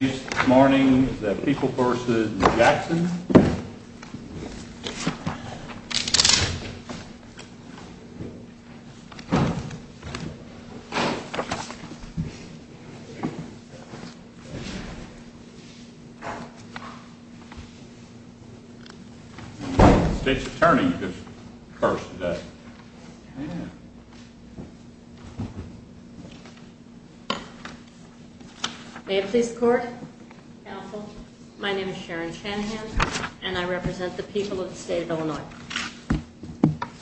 This morning, the people v. Jackson. The state's attorney is first today. May it please the court, counsel, my name is Sharon Shanahan, and I represent the people of the state of Illinois.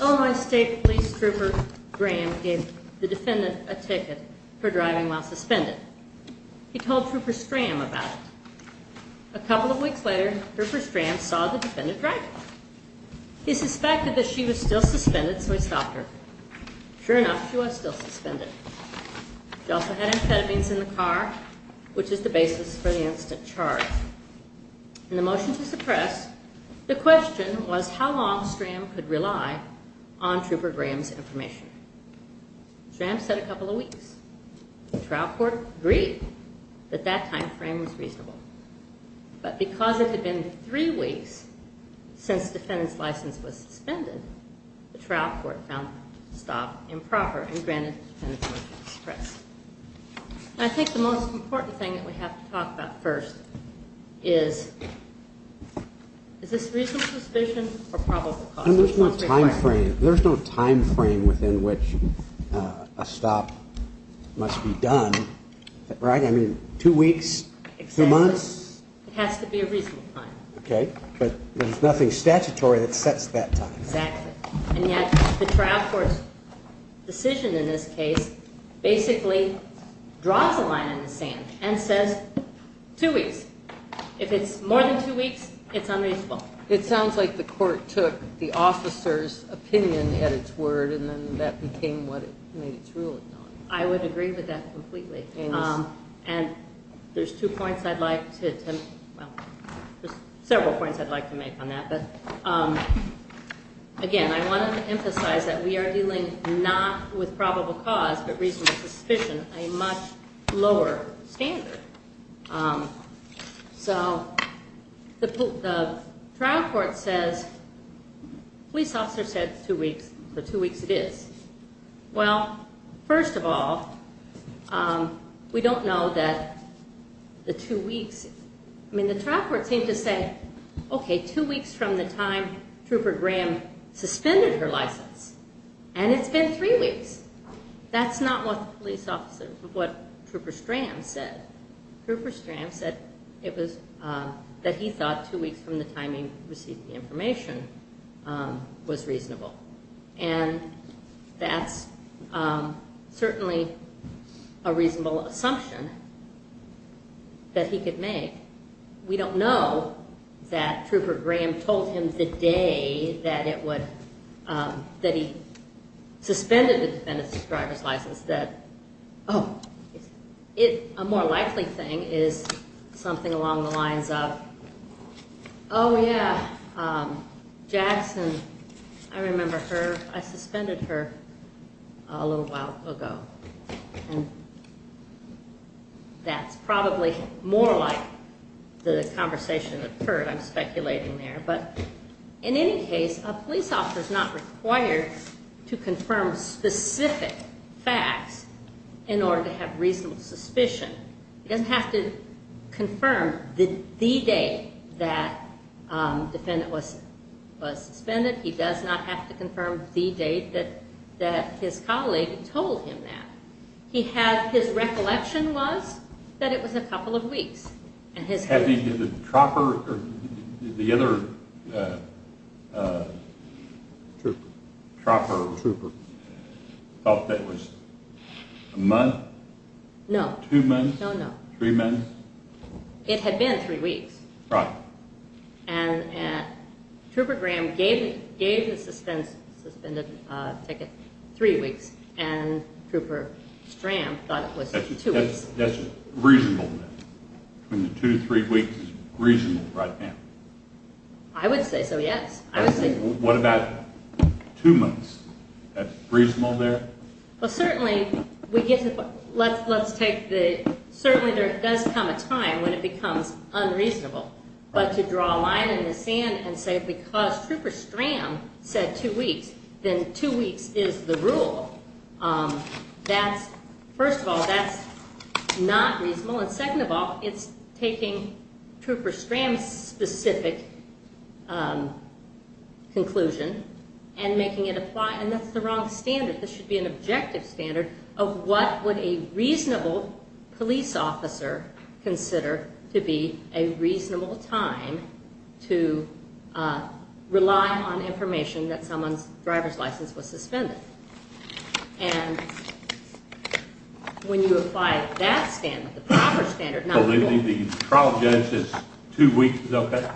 Illinois State Police Trooper Graham gave the defendant a ticket for driving while suspended. He told Trooper Stram about it. A couple of weeks later, Trooper Stram saw the defendant driving. He suspected that she was still suspended, so he stopped her. Sure enough, she was still suspended. She also had amphetamines in the car, which is the basis for the instant charge. In the motion to suppress, the question was how long Stram could rely on Trooper Graham's information. Stram said a couple of weeks. The trial court agreed that that time frame was reasonable. But because it had been three weeks since the defendant's license was suspended, the trial court found the stop improper and granted the defendant the right to suppress. I think the most important thing that we have to talk about first is, is this reasonable suspicion or probable cause? There's no time frame within which a stop must be done, right? I mean, two weeks, two months? It has to be a reasonable time. Okay, but there's nothing statutory that sets that time. Exactly. And yet the trial court's decision in this case basically draws a line in the sand and says two weeks. If it's more than two weeks, it's unreasonable. It sounds like the court took the officer's opinion at its word and then that became what it made its ruling on. I would agree with that completely. And there's two points I'd like to – well, there's several points I'd like to make on that. But, again, I wanted to emphasize that we are dealing not with probable cause but reasonable suspicion, a much lower standard. So the trial court says police officer said two weeks, so two weeks it is. Well, first of all, we don't know that the two weeks – I mean, the trial court seemed to say, okay, two weeks from the time Trooper Graham suspended her license, and it's been three weeks. That's not what the police officer, what Trooper Stram said. Trooper Stram said it was – that he thought two weeks from the time he received the information was reasonable. And that's certainly a reasonable assumption that he could make. We don't know that Trooper Graham told him the day that it would – that he suspended the defendant's driver's license that – oh, a more likely thing is something along the lines of, oh, yeah, Jackson. I remember her. I suspended her a little while ago. And that's probably more like the conversation that occurred, I'm speculating there. But in any case, a police officer is not required to confirm specific facts in order to have reasonable suspicion. He doesn't have to confirm the date that the defendant was suspended. He does not have to confirm the date that his colleague told him that. He had – his recollection was that it was a couple of weeks. The other Trooper thought that was a month? No. Two months? No, no. Three months? It had been three weeks. Right. And Trooper Graham gave the suspended ticket three weeks, and Trooper Stram thought it was two weeks. That's reasonable then? Two to three weeks is reasonable right now? I would say so, yes. What about two months? That's reasonable there? Well, certainly we get – let's take the – certainly there does come a time when it becomes unreasonable. But to draw a line in the sand and say because Trooper Stram said two weeks, then two weeks is the rule, that's – first of all, that's not reasonable. And second of all, it's taking Trooper Stram's specific conclusion and making it apply. And that's the wrong standard. This should be an objective standard of what would a reasonable police officer consider to be a reasonable time to rely on information that someone's driver's license was suspended. And when you apply that standard, the proper standard, not the rule. So the trial judge says two weeks is okay?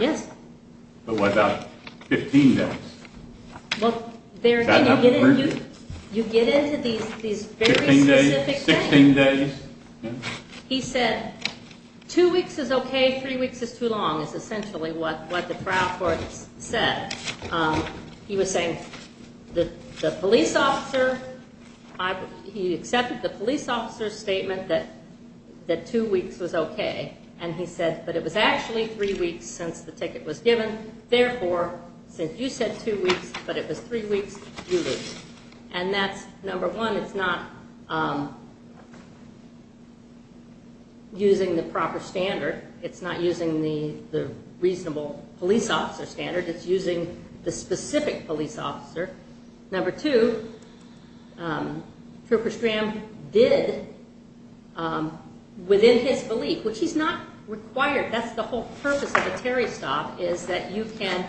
Yes. But what about 15 days? Well, there – you get into these very specific things. Fifteen days? Sixteen days? He said two weeks is okay, three weeks is too long is essentially what the trial court said. He was saying the police officer – he accepted the police officer's statement that two weeks was okay. And he said, but it was actually three weeks since the ticket was given. Therefore, since you said two weeks, but it was three weeks, you lose. And that's, number one, it's not using the proper standard. It's not using the reasonable police officer standard. It's using the specific police officer. Number two, Trooper Stram did within his belief, which he's not required. That's the whole purpose of a Terry stop, is that you can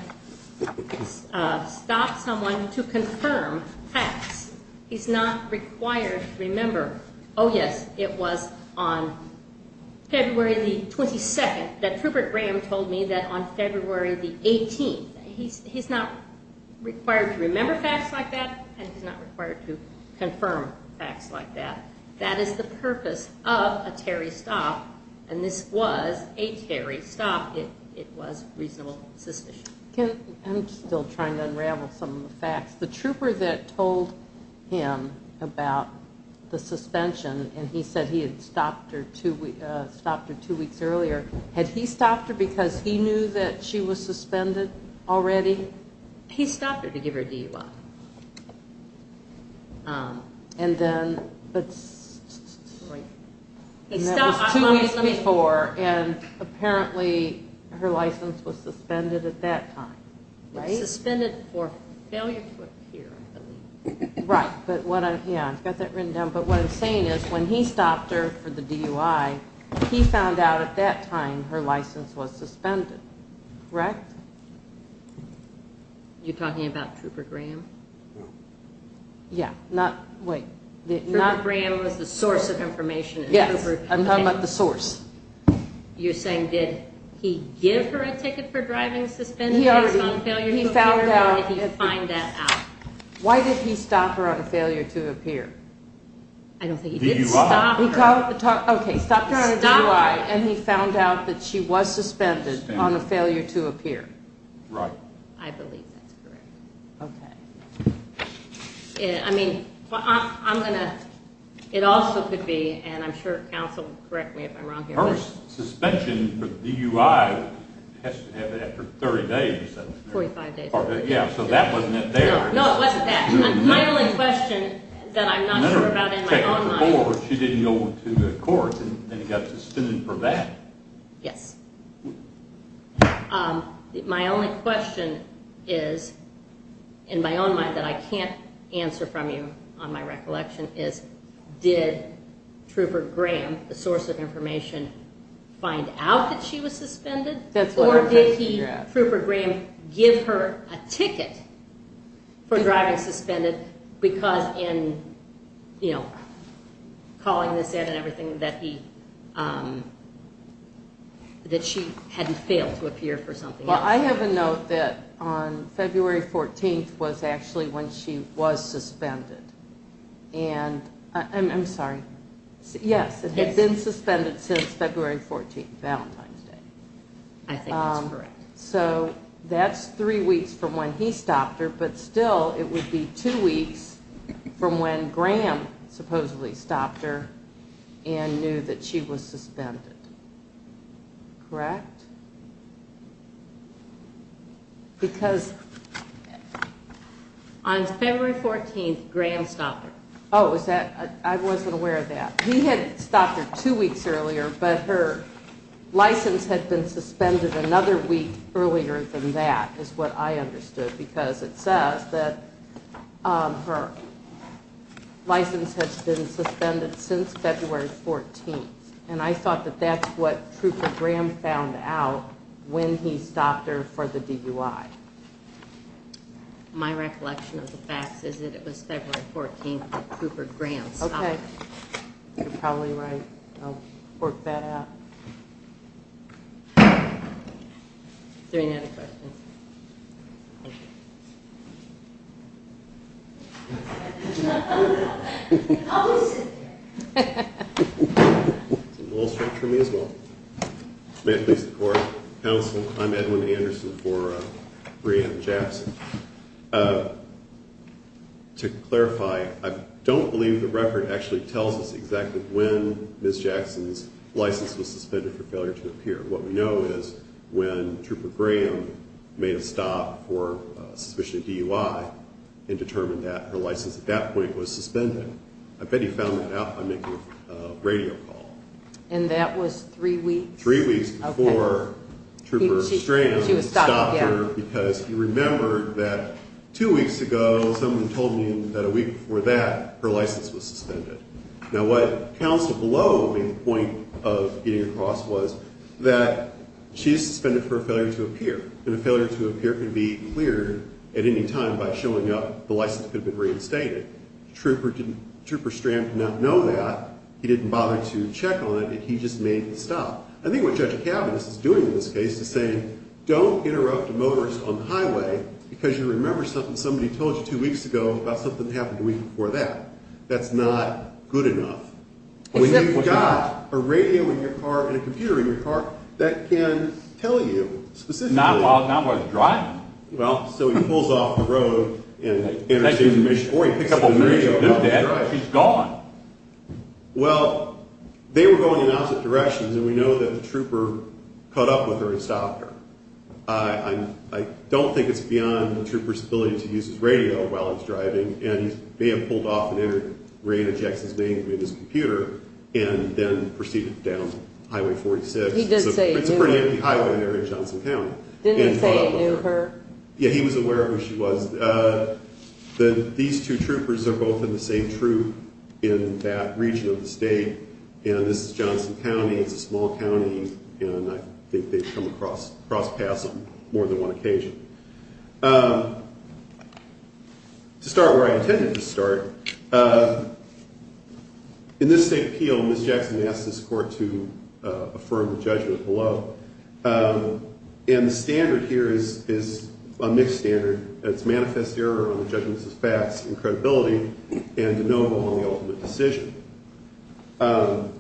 stop someone to confirm facts. He's not required to remember, oh, yes, it was on February the 22nd that Trooper Graham told me that on February the 18th. He's not required to remember facts like that, and he's not required to confirm facts like that. That is the purpose of a Terry stop, and this was a Terry stop. It was reasonable suspicion. I'm still trying to unravel some of the facts. The trooper that told him about the suspension, and he said he had stopped her two weeks earlier, had he stopped her because he knew that she was suspended already? He stopped her to give her a DUI. That was two weeks before, and apparently her license was suspended at that time. Suspended for failure to appear, I believe. Right, but what I'm saying is when he stopped her for the DUI, he found out at that time her license was suspended, correct? You're talking about Trooper Graham? Yeah, not, wait. Trooper Graham was the source of information. Yes, I'm talking about the source. You're saying did he give her a ticket for driving suspended? He found out. Why did he stop her on a failure to appear? I don't think he did. Okay, he stopped her on a DUI, and he found out that she was suspended on a failure to appear. Right. I believe that's correct. Okay. I mean, I'm going to, it also could be, and I'm sure counsel will correct me if I'm wrong here. Suspension for DUI has to happen after 30 days. 45 days. Yeah, so that wasn't it there. No, it wasn't that. My only question that I'm not sure about in my own mind. She didn't go to court, and then he got suspended for that. Yes. My only question is, in my own mind that I can't answer from you on my recollection, is did Trooper Graham, the source of information, find out that she was suspended? That's what I'm trying to figure out. Did Trooper Graham give her a ticket for driving suspended because in, you know, calling this in and everything that he, that she hadn't failed to appear for something else? Well, I have a note that on February 14th was actually when she was suspended. And, I'm sorry, yes, it had been suspended since February 14th, Valentine's Day. I think that's correct. So that's three weeks from when he stopped her, but still it would be two weeks from when Graham supposedly stopped her and knew that she was suspended, correct? Because... On February 14th, Graham stopped her. Oh, is that, I wasn't aware of that. He had stopped her two weeks earlier, but her license had been suspended another week earlier than that is what I understood, because it says that her license had been suspended since February 14th. And I thought that that's what Trooper Graham found out when he stopped her for the DUI. My recollection of the facts is that it was February 14th that Trooper Graham stopped her. Okay, you're probably right. I'll work that out. Is there any other questions? Thank you. It's a little short for me as well. May it please the Court. Counsel, I'm Edwin Anderson for Graham and Jackson. To clarify, I don't believe the record actually tells us exactly when Ms. Jackson's license was suspended for failure to appear. What we know is when Trooper Graham made a stop for suspicion of DUI and determined that her license at that point was suspended. I bet he found that out by making a radio call. And that was three weeks? Three weeks before Trooper Strand stopped her because he remembered that two weeks ago someone told me that a week before that her license was suspended. Now what counsel below made the point of getting across was that she's suspended for a failure to appear, and a failure to appear can be cleared at any time by showing up the license could have been reinstated. Trooper Strand did not know that. He didn't bother to check on it. He just made the stop. I think what Judge Kavanagh is doing in this case is saying, don't interrupt a motorist on the highway because you remember something somebody told you two weeks ago about something that happened a week before that. That's not good enough. When you've got a radio in your car and a computer in your car, that can tell you specifically. Not while he's driving. Well, so he pulls off the road. Or he picks up a radio. He's gone. Well, they were going in opposite directions, and we know that the trooper caught up with her and stopped her. I don't think it's beyond the trooper's ability to use his radio while he's driving, and he may have pulled off and interjected his name from his computer and then proceeded down Highway 46. He did say he knew her. It's a pretty empty highway in Johnson County. Didn't he say he knew her? Yeah, he was aware of who she was. These two troopers are both in the same troop in that region of the state, and this is Johnson County. It's a small county, and I think they've come across paths on more than one occasion. To start where I intended to start, in this state appeal, Ms. Jackson asked this court to affirm the judgment below. And the standard here is a mixed standard. It's manifest error on the judgments as facts and credibility and de novo on the ultimate decision. And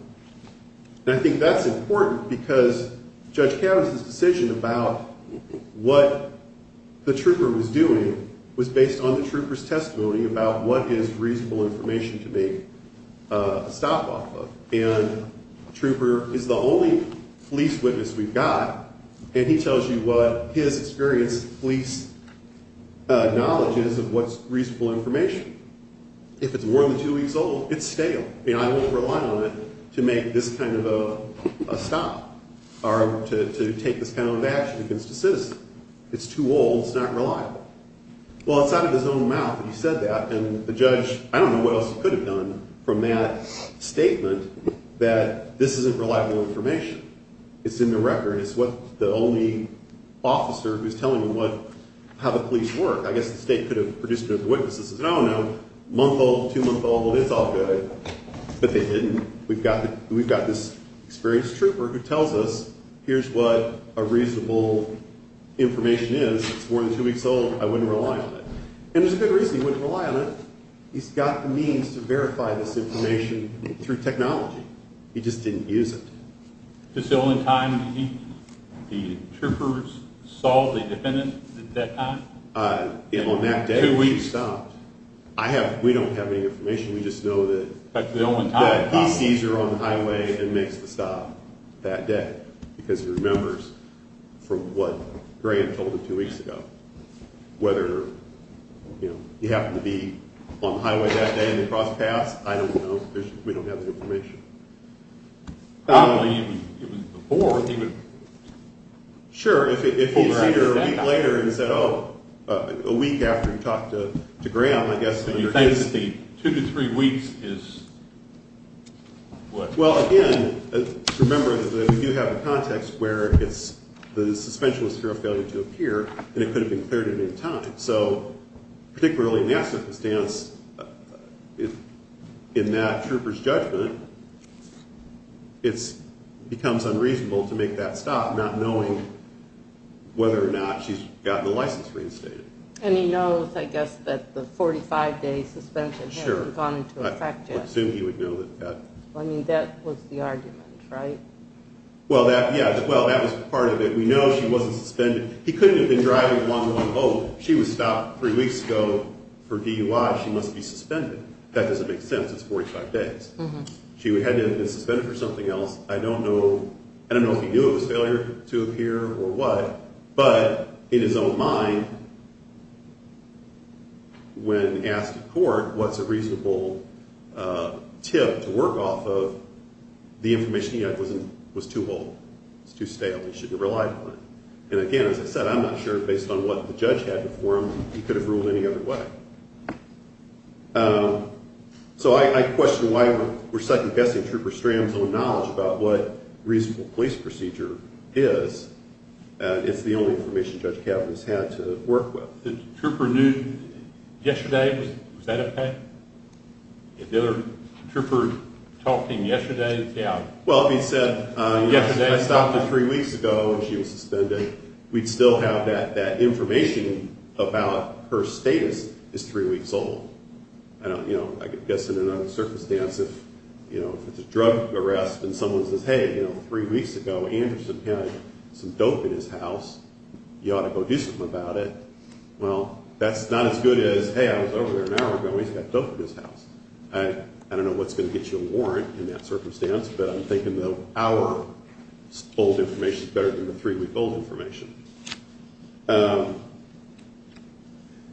I think that's important because Judge Cavan's decision about what the trooper was doing was based on the trooper's testimony about what is reasonable information to make a stop off of. And the trooper is the only police witness we've got, and he tells you what his experienced police knowledge is of what's reasonable information. If it's more than two weeks old, it's stale, and I won't rely on it to make this kind of a stop or to take this kind of an action against a citizen. It's too old. It's not reliable. Well, it's out of his own mouth that he said that, and the judge, I don't know what else he could have done from that statement that this isn't reliable information. It's in the record. It's what the only officer who's telling you how the police work. I guess the state could have produced it as a witness that says, oh, no, month old, two month old, it's all good. But they didn't. We've got this experienced trooper who tells us here's what a reasonable information is. It's more than two weeks old. I wouldn't rely on it. And there's a good reason he wouldn't rely on it. He's got the means to verify this information through technology. He just didn't use it. Is this the only time the troopers saw the defendant at that time? On that day, we stopped. We don't have any information. We just know that he sees her on the highway and makes the stop that day because he remembers from what Graham told him two weeks ago, whether he happened to be on the highway that day and they crossed paths. I don't know. We don't have the information. Probably even before, he would pull her out of the standoff. Sure. If he sees her a week later and said, oh, a week after he talked to Graham, I guess under his scheme. So you think the two to three weeks is what? Well, again, remember that we do have a context where the suspension was for a failure to appear and it could have been cleared at any time. So particularly in that circumstance, in that trooper's judgment, it becomes unreasonable to make that stop not knowing whether or not she's gotten the license reinstated. And he knows, I guess, that the 45-day suspension had gone into effect yet. Sure. That was the argument, right? Well, yeah. Well, that was part of it. We know she wasn't suspended. He couldn't have been driving one-to-one both. She was stopped three weeks ago for DUI. She must be suspended. That doesn't make sense. It's 45 days. She had to have been suspended for something else. I don't know if he knew it was failure to appear or what, but in his own mind, when asked in court what's a reasonable tip to work off of, the information he had was too old. It's too stale. He shouldn't have relied on it. And again, as I said, I'm not sure, based on what the judge had before him, he could have ruled any other way. So I question why we're second-guessing Trooper Stram's own knowledge about what reasonable police procedure is. It's the only information Judge Kavanaugh's had to work with. Trooper knew yesterday. Was that okay? Did Trooper talk to him yesterday? Yeah. Well, he said, I stopped her three weeks ago, and she was suspended. We'd still have that information about her status is three weeks old. I guess in another circumstance, if it's a drug arrest and someone says, hey, three weeks ago, Anderson had some dope in his house. You ought to go do something about it. Well, that's not as good as, hey, I was over there an hour ago. He's got dope in his house. I don't know what's going to get you a warrant in that circumstance, but I'm thinking the hour-old information is better than the three-week-old information.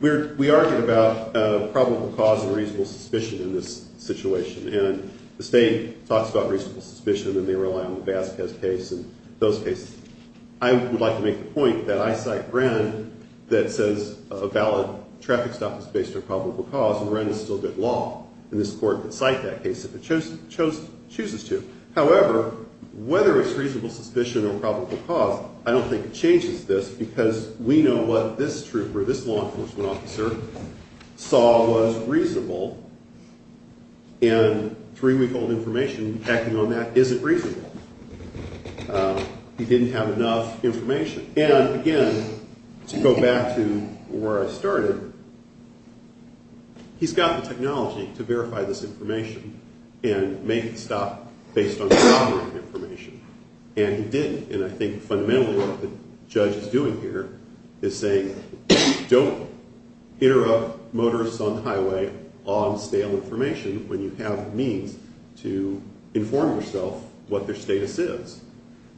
We argue about probable cause and reasonable suspicion in this situation, and the state talks about reasonable suspicion, and they rely on the Vasquez case and those cases. I would like to make the point that I cite Wren that says a valid traffic stop is based on probable cause, and Wren is still good law, and this court could cite that case if it chooses to. However, whether it's reasonable suspicion or probable cause, I don't think it changes this because we know what this trooper, saw was reasonable, and three-week-old information acting on that isn't reasonable. He didn't have enough information. And, again, to go back to where I started, he's got the technology to verify this information and make the stop based on the proper information, and he didn't. And I think fundamentally what the judge is doing here is saying, don't interrupt motorists on the highway on stale information when you have the means to inform yourself what their status is.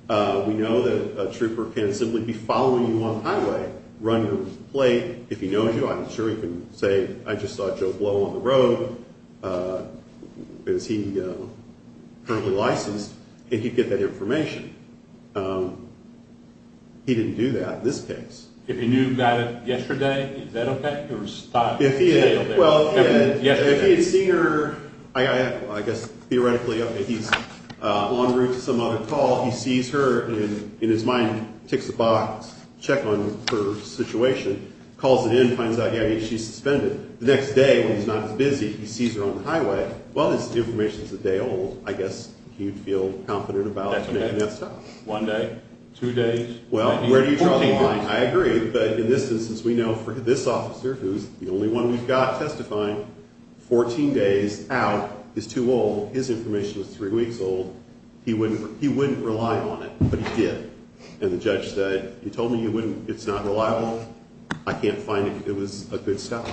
We know that a trooper can simply be following you on the highway, run you over to the plate. If he knows you, I'm sure he can say, I just saw Joe Blow on the road. Is he currently licensed? And he'd get that information. He didn't do that in this case. If he knew about it yesterday, is that okay? If he had seen her, I guess theoretically, okay, he's en route to some other call, he sees her, and in his mind ticks a box, check on her situation, calls it in, finds out, yeah, she's suspended. The next day, when he's not as busy, he sees her on the highway. Well, this information is a day old. I guess he'd feel confident about making that stop. One day? Two days? Well, where do you draw the line? I agree, but in this instance, we know for this officer, who's the only one we've got testifying, 14 days out is too old. His information is three weeks old. He wouldn't rely on it, but he did. And the judge said, you told me it's not reliable. I can't find it. It was a good stop.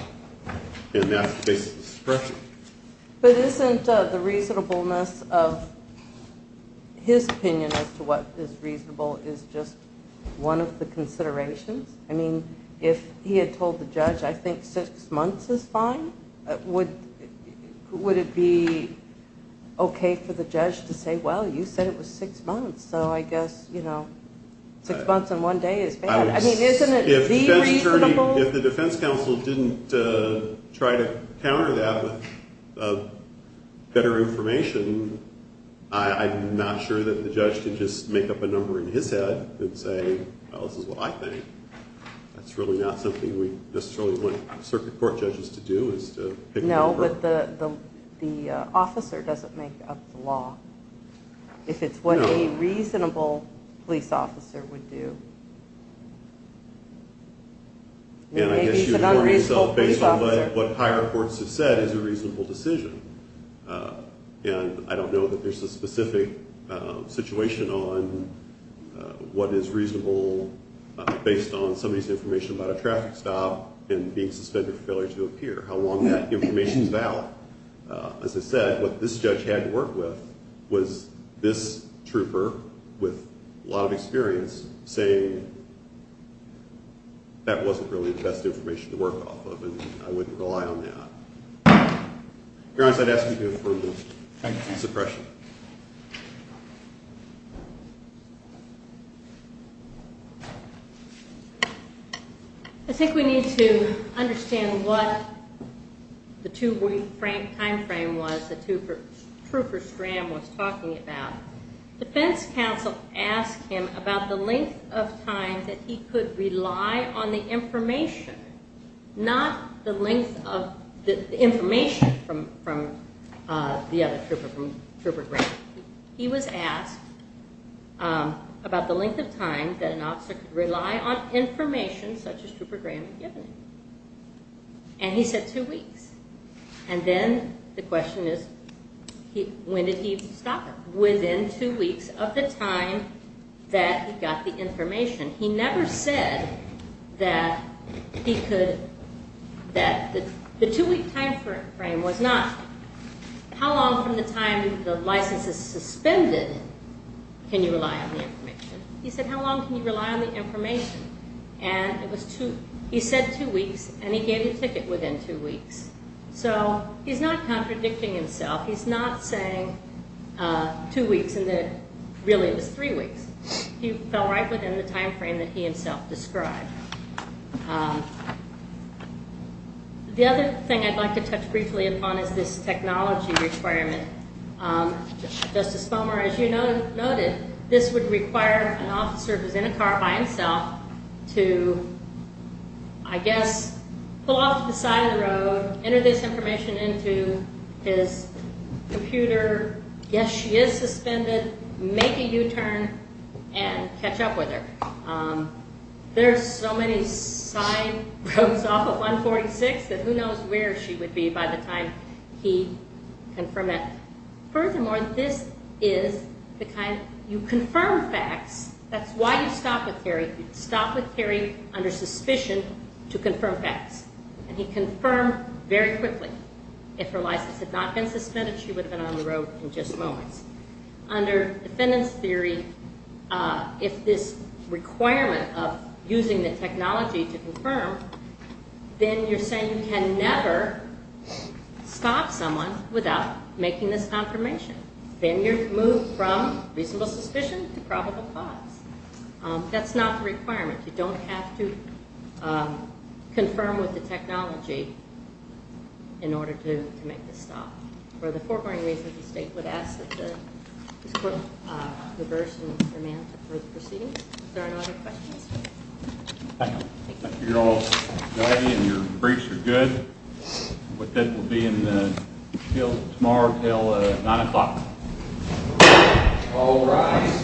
And that's basically the suppression. But isn't the reasonableness of his opinion as to what is reasonable is just one of the considerations? I mean, if he had told the judge, I think six months is fine, would it be okay for the judge to say, well, you said it was six months, so I guess, you know, six months and one day is bad. I mean, isn't it the reasonable? If the defense counsel didn't try to counter that with better information, I'm not sure that the judge can just make up a number in his head and say, well, this is what I think. That's really not something we necessarily want circuit court judges to do, is to pick a number. No, but the officer doesn't make up the law, if it's what a reasonable police officer would do. And maybe it's an unreasonable police officer. And I guess you would warn yourself based on what higher courts have said is a reasonable decision. And I don't know that there's a specific situation on what is reasonable based on somebody's information about a traffic stop and being suspended for failure to appear, how long that information is out. As I said, what this judge had to work with was this trooper with a lot of experience saying that wasn't really the best information to work off of and I wouldn't rely on that. Your Honor, so I'd ask you to approve this suppression. Thank you. I think we need to understand what the two-week time frame was that Trooper Scram was talking about. Defense counsel asked him about the length of time that he could rely on the information, not the length of the information from the other trooper, from Trooper Graham. He was asked about the length of time that an officer could rely on information such as Trooper Graham had given him. And he said two weeks. And then the question is, when did he stop it? Within two weeks of the time that he got the information. He never said that the two-week time frame was not how long from the time the license is suspended can you rely on the information. He said how long can you rely on the information. And he said two weeks, and he gave you a ticket within two weeks. So he's not contradicting himself. He's not saying two weeks and that really it was three weeks. He fell right within the time frame that he himself described. The other thing I'd like to touch briefly upon is this technology requirement. Justice Bomer, as you noted, this would require an officer who's in a car by himself to, I guess, pull off to the side of the road, enter this information into his computer. Yes, she is suspended. Make a U-turn and catch up with her. There are so many side roads off of 146 that who knows where she would be by the time he confirmed that. Furthermore, this is the kind of, you confirm facts. That's why you stop with Kerry. You stop with Kerry under suspicion to confirm facts. And he confirmed very quickly. If her license had not been suspended, she would have been on the road in just moments. Under defendant's theory, if this requirement of using the technology to confirm, then you're saying you can never stop someone without making this confirmation. Then you move from reasonable suspicion to probable cause. That's not the requirement. You don't have to confirm with the technology in order to make the stop. For the foregoing reasons, the state would ask that this court reverse and amend the proceedings. Is there any other questions? Thank you. Thank you all. And your briefs are good. But that will be in the field tomorrow until 9 o'clock. All rise. Thank you.